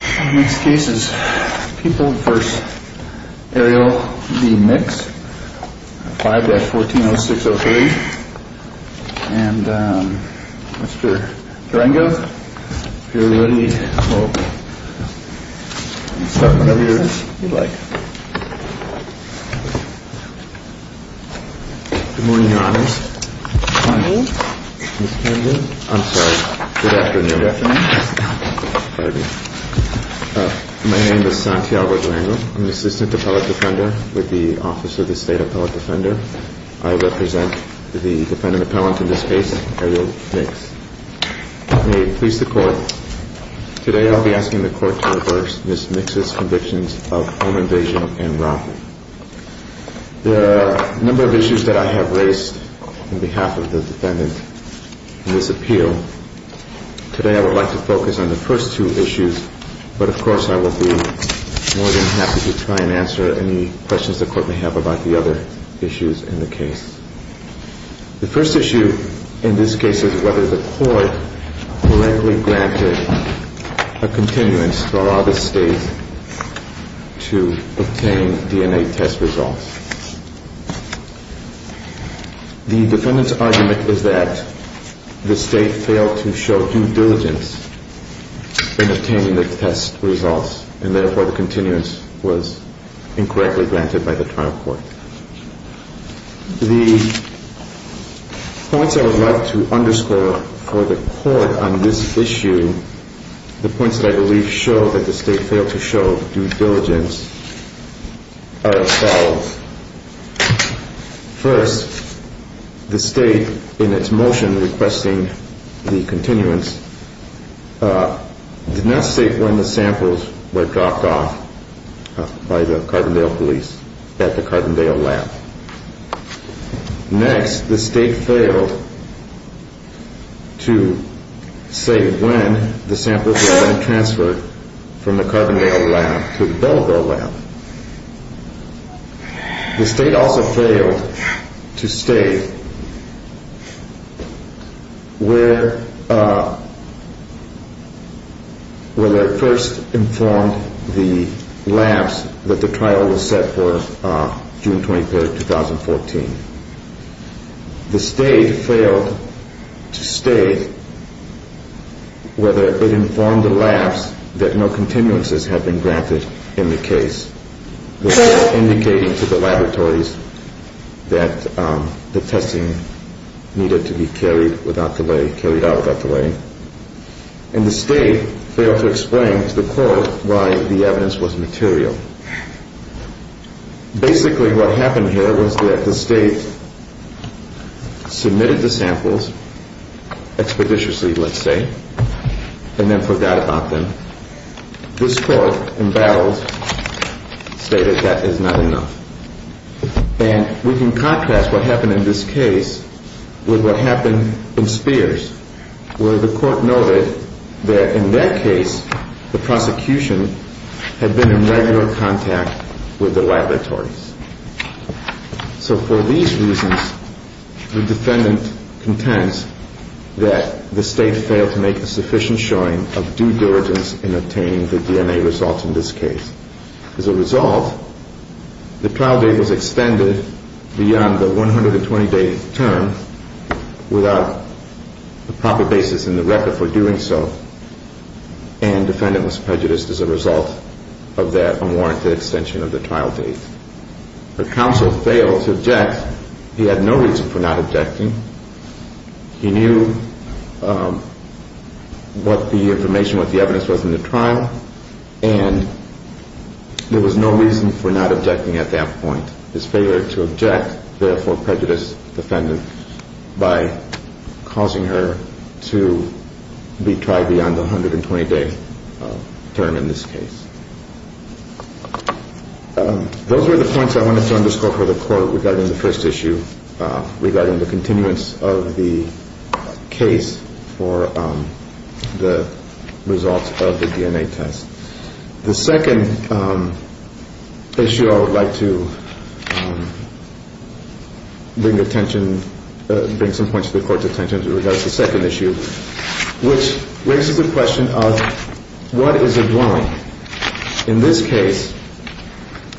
Next case is People v. Ariel v. Mix 5-140603 and Mr. Durango, if you're ready, start whenever you're ready, if you'd like. Good morning, Your Honors. Good morning. My name is Santiago Durango. I'm an assistant appellate defender with the Office of the State Appellate Defender. I represent the defendant appellant in this case, Ariel Mix. May it please the Court, today I'll be asking the Court to reverse Ms. Mix's convictions of home invasion and robbery. There are a number of issues that I have raised on behalf of the defendant in this appeal. Today I would like to focus on the first two issues, but of course I will be more than happy to try and answer any questions the Court may have about the other issues in the case. The first issue in this case is whether the Court correctly granted a continuance to allow the State to obtain DNA test results. The defendant's argument is that the State failed to show due diligence in obtaining the test results, and therefore the continuance was incorrectly granted by the trial court. The points I would like to underscore for the Court on this issue, the points that I believe show that the State failed to show due diligence, are as follows. First, the State, in its motion requesting the continuance, did not state when the samples were dropped off by the Carbondale police at the Carbondale lab. Next, the State failed to say when the samples were then transferred from the Carbondale lab to the Belleville lab. The State also failed to state whether it first informed the labs that the trial was set for June 23, 2014. The State failed to state whether it informed the labs that no continuances had been granted in the case, indicating to the laboratories that the testing needed to be carried out without delay. And the State failed to explain to the Court why the evidence was material. Basically, what happened here was that the State submitted the samples expeditiously, let's say, and then forgot about them. This Court, in battle, stated that is not enough. And we can contrast what happened in this case with what happened in Spears, where the Court noted that in that case, the prosecution had been in regular contact with the laboratories. So for these reasons, the defendant contends that the State failed to make a sufficient showing of due diligence in obtaining the DNA results in this case. As a result, the trial date was extended beyond the 120-day term without the proper basis in the record for doing so, and the defendant was prejudiced as a result of that unwarranted extension of the trial date. The counsel failed to object. He had no reason for not objecting. He knew what the information, what the evidence was in the trial, and there was no reason for not objecting at that point. His failure to object therefore prejudiced the defendant by causing her to be tried beyond the 120-day term in this case. Those were the points I wanted to underscore for the Court regarding the first issue, regarding the continuance of the case for the results of the DNA test. The second issue I would like to bring attention, bring some points to the Court's attention in regards to the second issue, which raises the question of what is a dwelling? In this case,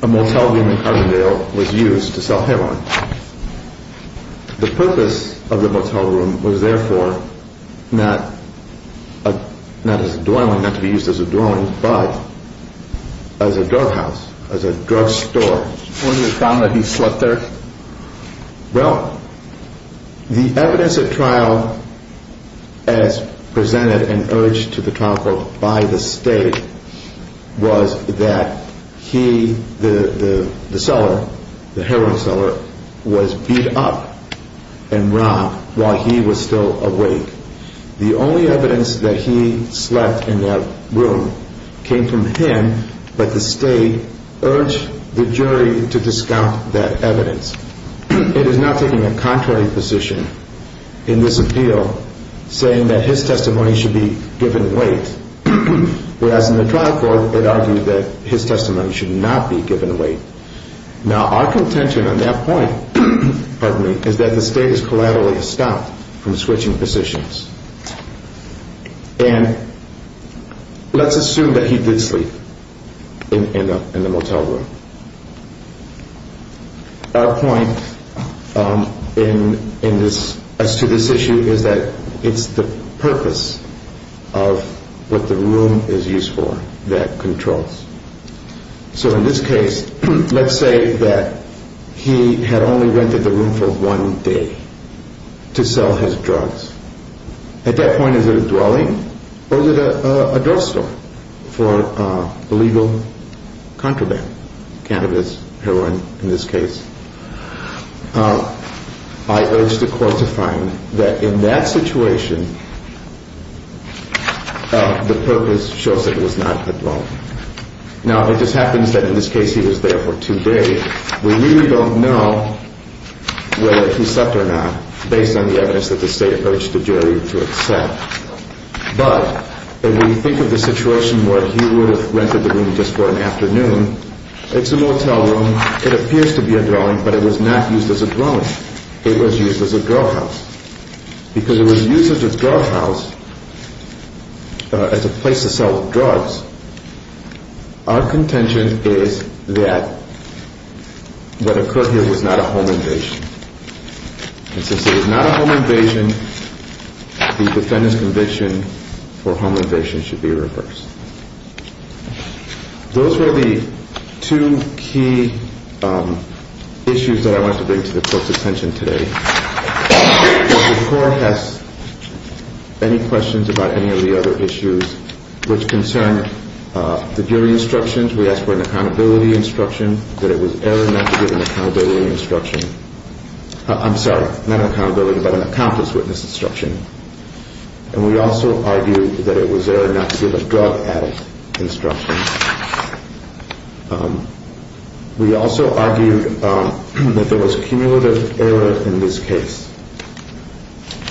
a motel room in Carbondale was used to sell heroin. The purpose of the motel room was therefore not as a dwelling, not to be used as a dwelling, but as a drug house, as a drug store. When you found that he slept there? Well, the evidence at trial as presented and urged to the trial court by the State was that he, the seller, the heroin seller, was beat up and robbed while he was still awake. The only evidence that he slept in that room came from him, but the State urged the jury to discount that evidence. It is not taking a contrary position in this appeal saying that his testimony should be given weight, whereas in the trial court it argued that his testimony should not be given weight. Now, our contention on that point, pardon me, is that the State has collaterally stopped from switching positions. And let's assume that he did sleep in the motel room. Our point in this, as to this issue, is that it's the purpose of what the room is used for that controls. So in this case, let's say that he had only rented the room for one day to sell his drugs. At that point, is it a dwelling or is it a drug store for illegal contraband, cannabis, heroin in this case? I urge the court to find that in that situation the purpose shows that it was not a dwelling. Now, it just happens that in this case he was there for two days. We really don't know whether he slept or not based on the evidence that the State urged the jury to accept. But when you think of the situation where he would have rented the room just for an afternoon, it's a motel room. It appears to be a dwelling, but it was not used as a dwelling. It was used as a drug house. Because it was used as a drug house, as a place to sell drugs, our contention is that what occurred here was not a home invasion. And since it was not a home invasion, the defendant's conviction for home invasion should be reversed. Those were the two key issues that I want to bring to the court's attention today. If the court has any questions about any of the other issues which concern the jury instructions, we ask for an accountability instruction that it was error not to give an accountability instruction. I'm sorry, not an accountability, but an accomplice witness instruction. And we also argue that it was error not to give a drug addict instruction. We also argued that there was cumulative error in this case.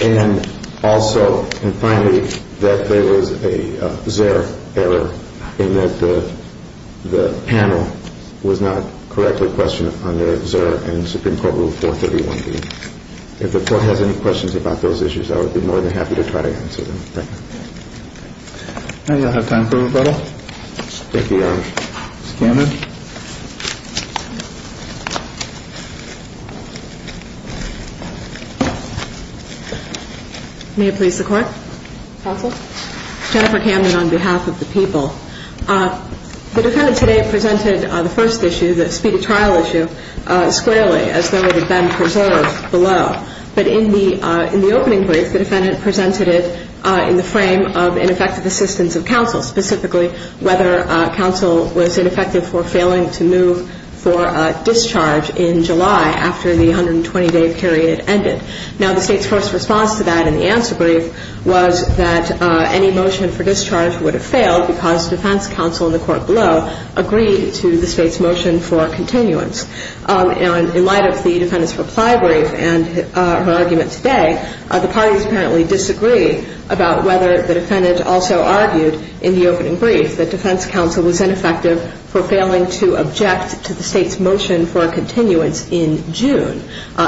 And also, and finally, that there was a ZERR error in that the panel was not correctly questioned under ZERR and Supreme Court Rule 431B. If the court has any questions about those issues, I would be more than happy to try to answer them. Thank you. And you'll have time for rebuttal. Thank you, Your Honor. Ms. Camden. May it please the Court? Counsel. Jennifer Camden on behalf of the people. The defendant today presented the first issue, the speed of trial issue, squarely as though it had been preserved below. But in the opening brief, the defendant presented it in the frame of ineffective assistance of counsel, specifically whether counsel was ineffective for failing to move for a discharge in July after the 120-day period ended. Now, the State's first response to that in the answer brief was that any motion for discharge would have failed because defense counsel in the court below agreed to the State's motion for continuance. And in light of the defendant's reply brief and her argument today, the parties apparently disagree about whether the defendant also argued in the opening brief that defense counsel was ineffective for failing to object to the State's motion for continuance in June,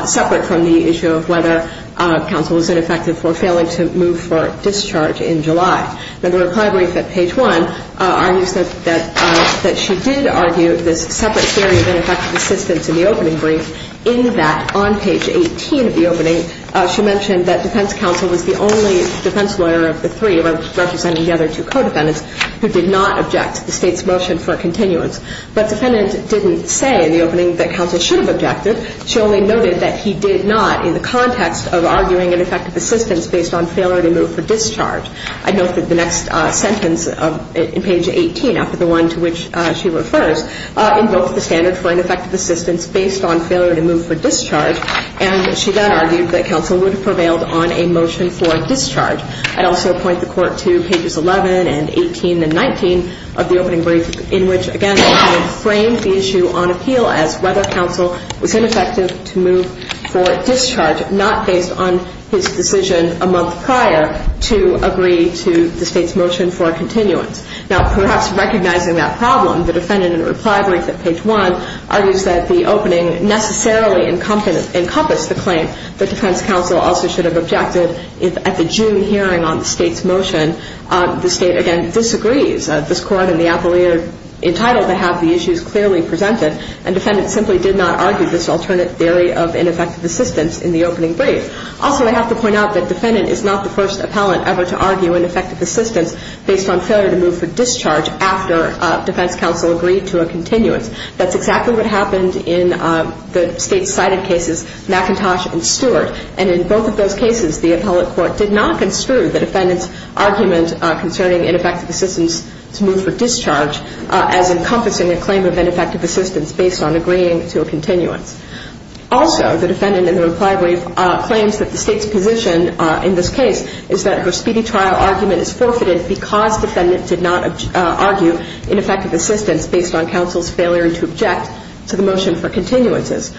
separate from the issue of whether counsel was ineffective for failing to move for a discharge in July. Now, the reply brief at page 1 argues that she did argue this separate theory of ineffective assistance in the opening brief. In that, on page 18 of the opening, she mentioned that defense counsel was the only defense lawyer of the three, representing the other two co-defendants, who did not object to the State's motion for continuance. But the defendant didn't say in the opening that counsel should have objected. She only noted that he did not in the context of arguing ineffective assistance based on failure to move for discharge. I note that the next sentence in page 18, after the one to which she refers, invokes the standard for ineffective assistance based on failure to move for discharge. And she then argued that counsel would have prevailed on a motion for discharge. I'd also point the Court to pages 11 and 18 and 19 of the opening brief, in which, again, the defendant framed the issue on appeal as whether counsel was ineffective to move for discharge, not based on his decision a month prior to agree to the State's motion for continuance. Now, perhaps recognizing that problem, the defendant in a reply brief at page 1 argues that the opening necessarily encompassed the claim that defense counsel also should have objected at the June hearing on the State's motion. The State, again, disagrees. This Court and the appellee are entitled to have the issues clearly presented. And defendants simply did not argue this alternate theory of ineffective assistance in the opening brief. Also, I have to point out that defendant is not the first appellant ever to argue ineffective assistance based on failure to move for discharge after defense counsel agreed to a continuance. That's exactly what happened in the State's cited cases, McIntosh and Stewart. And in both of those cases, the appellate court did not construe the defendant's argument concerning ineffective assistance to move for discharge as encompassing a claim of ineffective assistance based on agreeing to a continuance. Also, the defendant in the reply brief claims that the State's position in this case is that her speedy trial argument is forfeited because defendant did not argue ineffective assistance based on counsel's failure to object to the motion for continuances.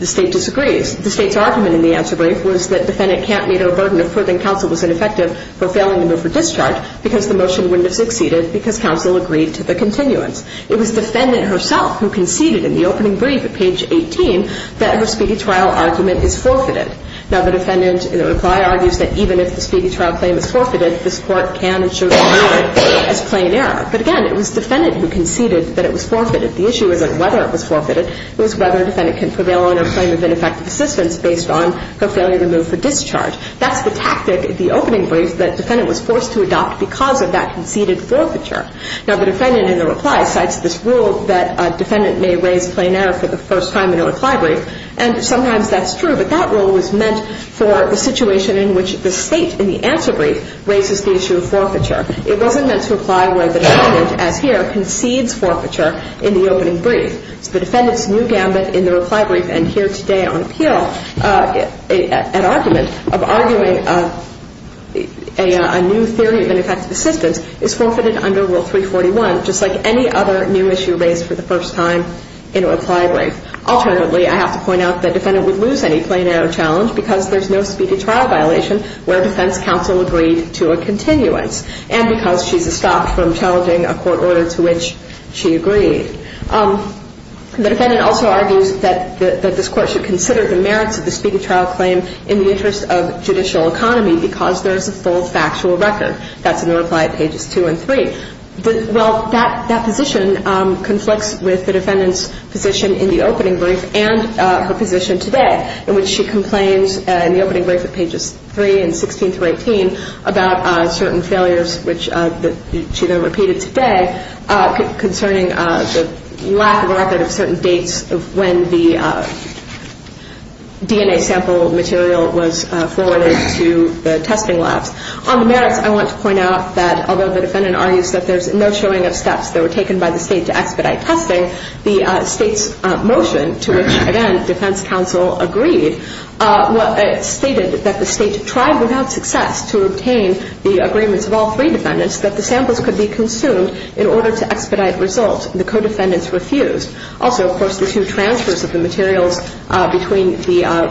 The State disagrees. The State's argument in the answer brief was that defendant can't meet her burden of proving counsel was ineffective for failing to move for discharge because the motion wouldn't have succeeded because counsel agreed to the continuance. It was defendant herself who conceded in the opening brief at page 18 that her speedy trial argument is forfeited. Now, the defendant in the reply argues that even if the speedy trial claim is forfeited, this Court can and should view it as plain error. But again, it was defendant who conceded that it was forfeited. The issue isn't whether it was forfeited. It was whether defendant can prevail on her claim of ineffective assistance based on her failure to move for discharge. That's the tactic in the opening brief that defendant was forced to adopt because of that conceded forfeiture. Now, the defendant in the reply cites this rule that a defendant may raise plain error for the first time in a reply brief, and sometimes that's true, but that rule was meant for the situation in which the State in the answer brief raises the issue of forfeiture. It wasn't meant to apply where the defendant, as here, concedes forfeiture in the opening brief. So the defendant's new gambit in the reply brief and here today on appeal, an argument of arguing a new theory of ineffective assistance is forfeited under Rule 341, just like any other new issue raised for the first time in a reply brief. Alternatively, I have to point out the defendant would lose any plain error challenge because there's no speedy trial violation where defense counsel agreed to a continuance. And because she's stopped from challenging a court order to which she agreed. The defendant also argues that this Court should consider the merits of the speedy trial claim in the interest of judicial economy because there is a full factual record. That's in the reply pages 2 and 3. Well, that position conflicts with the defendant's position in the opening brief and her position today, in which she complains in the opening brief at pages 3 and 16 through 18 about certain failures, which she then repeated today concerning the lack of a record of certain dates of when the DNA sample material was forwarded to the testing labs. On the merits, I want to point out that although the defendant argues that there's no showing of steps that were taken by the State to expedite testing, the State's motion to which, again, defense counsel agreed, stated that the State tried without success to obtain the agreements of all three defendants that the samples could be consumed in order to expedite results. The co-defendants refused. Also, of course, the two transfers of the materials between the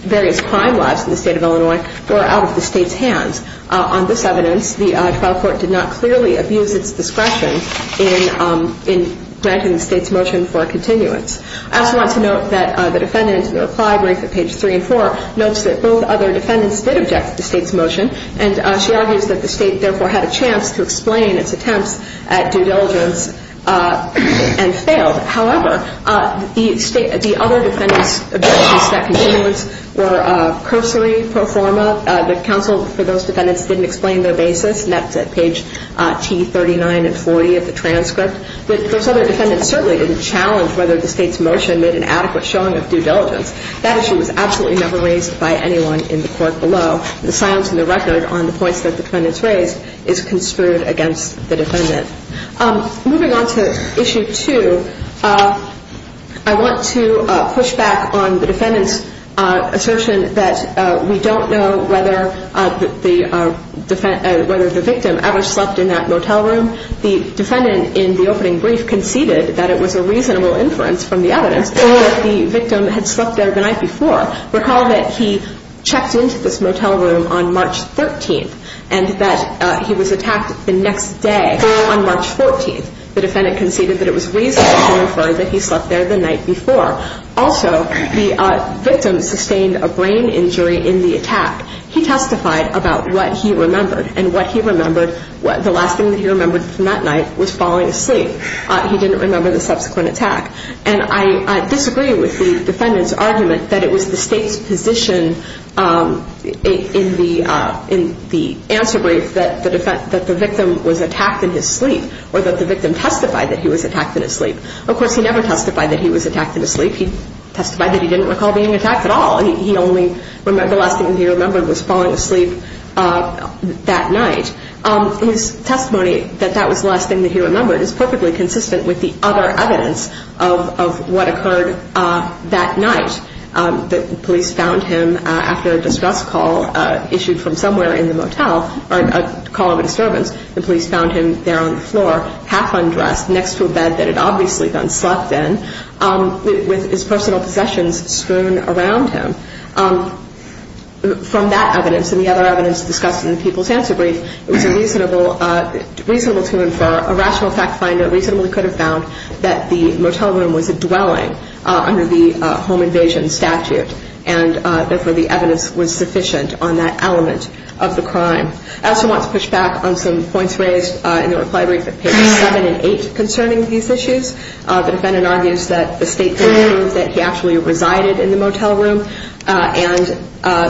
various crime labs in the State of Illinois were out of the State's hands. On this evidence, the trial court did not clearly abuse its discretion in granting the State's motion for continuance. I also want to note that the defendant in the reply brief at pages 3 and 4 notes that both other defendants did object to the State's motion, and she argues that the State therefore had a chance to explain its attempts at due diligence and failed. However, the other defendants' objections to that continuance were cursory pro forma. The counsel for those defendants didn't explain their basis. And that's at page T39 and 40 of the transcript. But those other defendants certainly didn't challenge whether the State's motion made an adequate showing of due diligence. That issue was absolutely never raised by anyone in the court below. The silence in the record on the points that the defendants raised is construed against the defendant. Moving on to issue 2, I want to push back on the defendant's assertion that we don't know whether the victim ever slept in that motel room. The defendant in the opening brief conceded that it was a reasonable inference from the evidence that the victim had slept there the night before. Recall that he checked into this motel room on March 13th and that he was attacked the next day on March 14th. The defendant conceded that it was reasonable to infer that he slept there the night before. Also, the victim sustained a brain injury in the attack. He testified about what he remembered. And what he remembered, the last thing that he remembered from that night was falling asleep. He didn't remember the subsequent attack. And I disagree with the defendant's argument that it was the State's position in the answer brief that the victim was attacked in his sleep or that the victim testified that he was attacked in his sleep. Of course, he never testified that he was attacked in his sleep. He testified that he didn't recall being attacked at all. The last thing he remembered was falling asleep that night. His testimony that that was the last thing that he remembered is perfectly consistent with the other evidence of what occurred that night. The police found him after a distress call issued from somewhere in the motel, or a call of a disturbance. The police found him there on the floor, half undressed, next to a bed that had obviously been slept in, with his personal possessions strewn around him. From that evidence and the other evidence discussed in the people's answer brief, it was reasonable to infer, a rational fact finder reasonably could have found, that the motel room was a dwelling under the home invasion statute, and therefore the evidence was sufficient on that element of the crime. I also want to push back on some points raised in the reply brief at pages 7 and 8 concerning these issues. The defendant argues that the State could have proved that he actually resided in the motel room and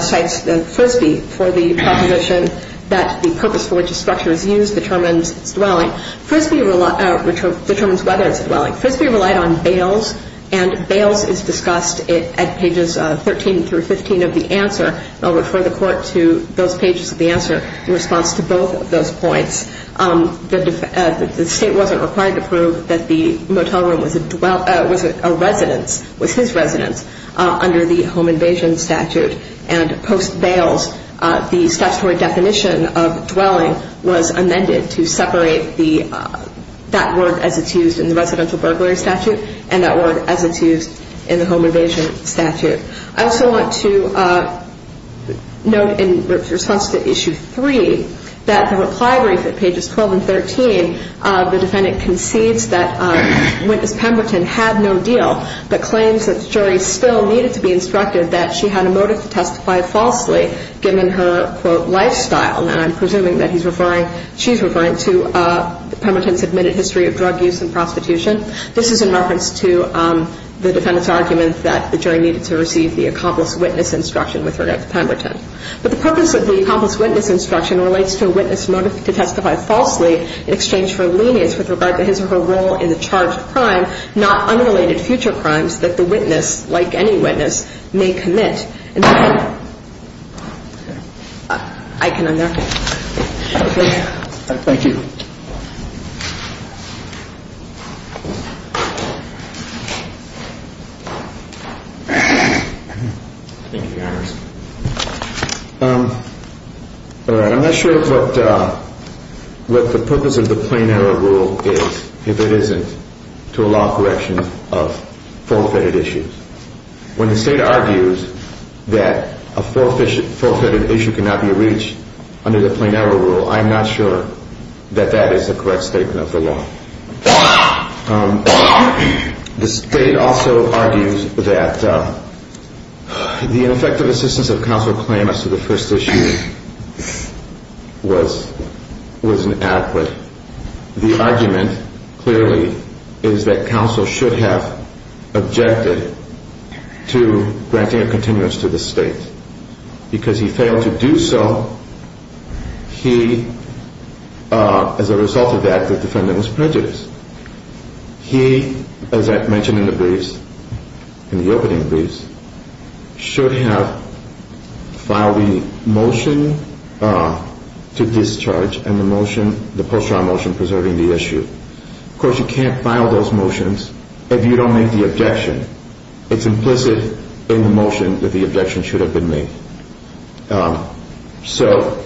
cites Frisbee for the proposition that the purpose for which a structure is used determines its dwelling. Frisbee determines whether it's a dwelling. Frisbee relied on bails, and bails is discussed at pages 13 through 15 of the answer, and I'll refer the Court to those pages of the answer in response to both of those points. The State wasn't required to prove that the motel room was a residence, was his residence, under the home invasion statute, and post-bails the statutory definition of dwelling was amended to separate that word as it's used in the residential burglary statute and that word as it's used in the home invasion statute. I also want to note in response to issue 3 that the reply brief at pages 12 and 13, the defendant concedes that witness Pemberton had no deal, but claims that the jury still needed to be instructed that she had a motive to testify falsely, given her, quote, lifestyle, and I'm presuming that he's referring, she's referring to Pemberton's admitted history of drug use and prostitution. This is in reference to the defendant's argument that the jury needed to receive the accomplice witness instruction with regard to Pemberton. But the purpose of the accomplice witness instruction relates to a witness motive to testify falsely in exchange for lenience with regard to his or her role in the charged crime, not unrelated future crimes that the witness, like any witness, may commit. All right. I'm not sure what the purpose of the plain error rule is if it isn't to allow corrections of fault-fitted issues. When the State argues that the defendant is guilty of a crime, that a fault-fitted issue cannot be reached under the plain error rule, I'm not sure that that is the correct statement of the law. The State also argues that the ineffective assistance of counsel claim as to the first issue was inadequate. The argument, clearly, is that counsel should have objected to granting a continuance to the State. Because he failed to do so, he, as a result of that, the defendant was prejudiced. He, as I mentioned in the briefs, in the opening briefs, should have filed the motion to discharge and the motion, the post-trial motion, preserving the issue. Of course, you can't file those motions if you don't make the objection. It's implicit in the motion that the objection should have been made. So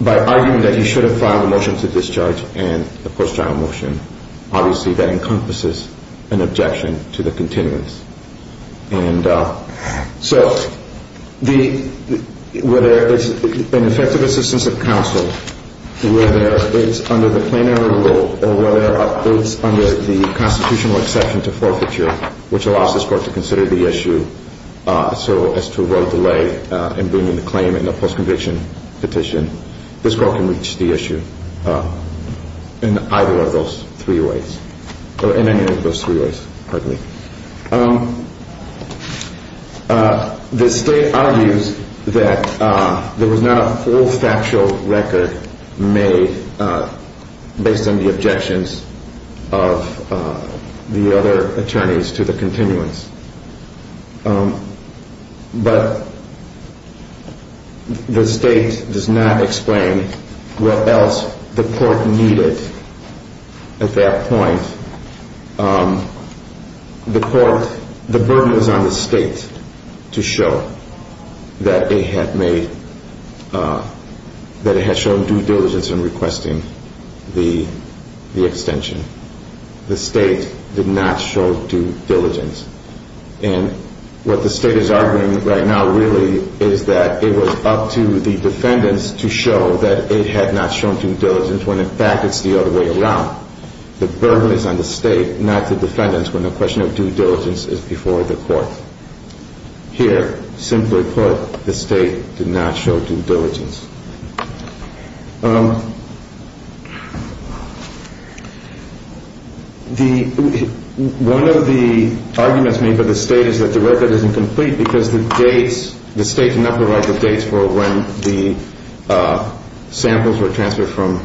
by arguing that he should have filed the motion to discharge and the post-trial motion, obviously that encompasses an objection to the continuance. And so whether it's an ineffective assistance of counsel, whether it's under the plain error rule, or whether it's under the constitutional exception to forfeiture, which allows this Court to consider the issue so as to avoid delay in bringing the claim in the post-conviction petition, this Court can reach the issue in either of those three ways, or in any of those three ways, partly. The State argues that there was not a full factual record made based on the objections of the other attorneys to the continuance. But the State does not explain what else the Court needed at that point. The Court, the burden is on the State to show that it had made, that it had shown due diligence in requesting the extension. The State did not show due diligence. And what the State is arguing right now really is that it was up to the defendants to show that it had not shown due diligence, when in fact it's the other way around. The burden is on the State, not the defendants, when the question of due diligence is before the Court. Here, simply put, the State did not show due diligence. One of the arguments made by the State is that the record is incomplete, because the State did not provide the dates for when the samples were transferred from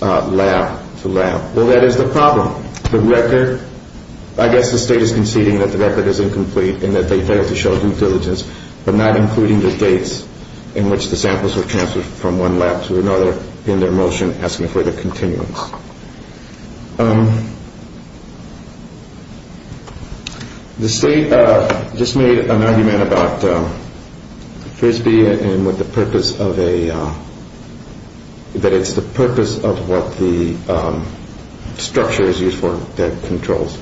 lab to lab. Well, that is the problem. The record, I guess the State is conceding that the record is incomplete and that they failed to show due diligence, but not including the dates in which the samples were transferred from one lab to another in their motion asking for the continuance. The State just made an argument about Frisbee and what the purpose of a, that it's the purpose of what the structure is used for, that controls.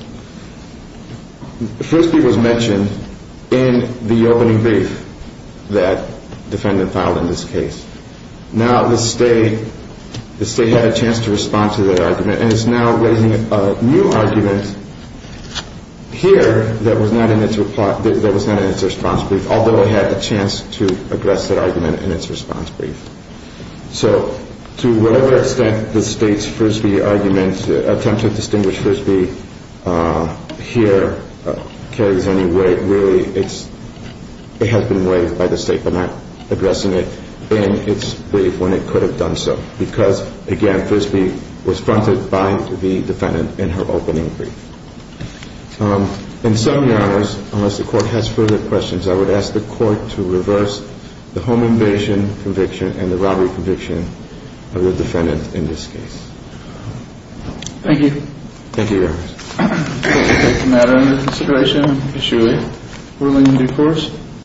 Frisbee was mentioned in the opening brief that defendant filed in this case. Now the State, the State had a chance to respond to that argument, and it's now raising a new argument here that was not in its response brief, although it had a chance to address that argument in its response brief. So to whatever extent the State's Frisbee argument, attempt to distinguish Frisbee here carries any weight, and really it's, it has been weighed by the State for not addressing it in its brief when it could have done so, because again, Frisbee was fronted by the defendant in her opening brief. In summary, Your Honors, unless the Court has further questions, I would ask the Court to reverse the home invasion conviction and the robbery conviction of the defendant in this case. Thank you. Thank you, Your Honors. Okay, is the matter under consideration? Yes, Your Honor. Ruling in due course?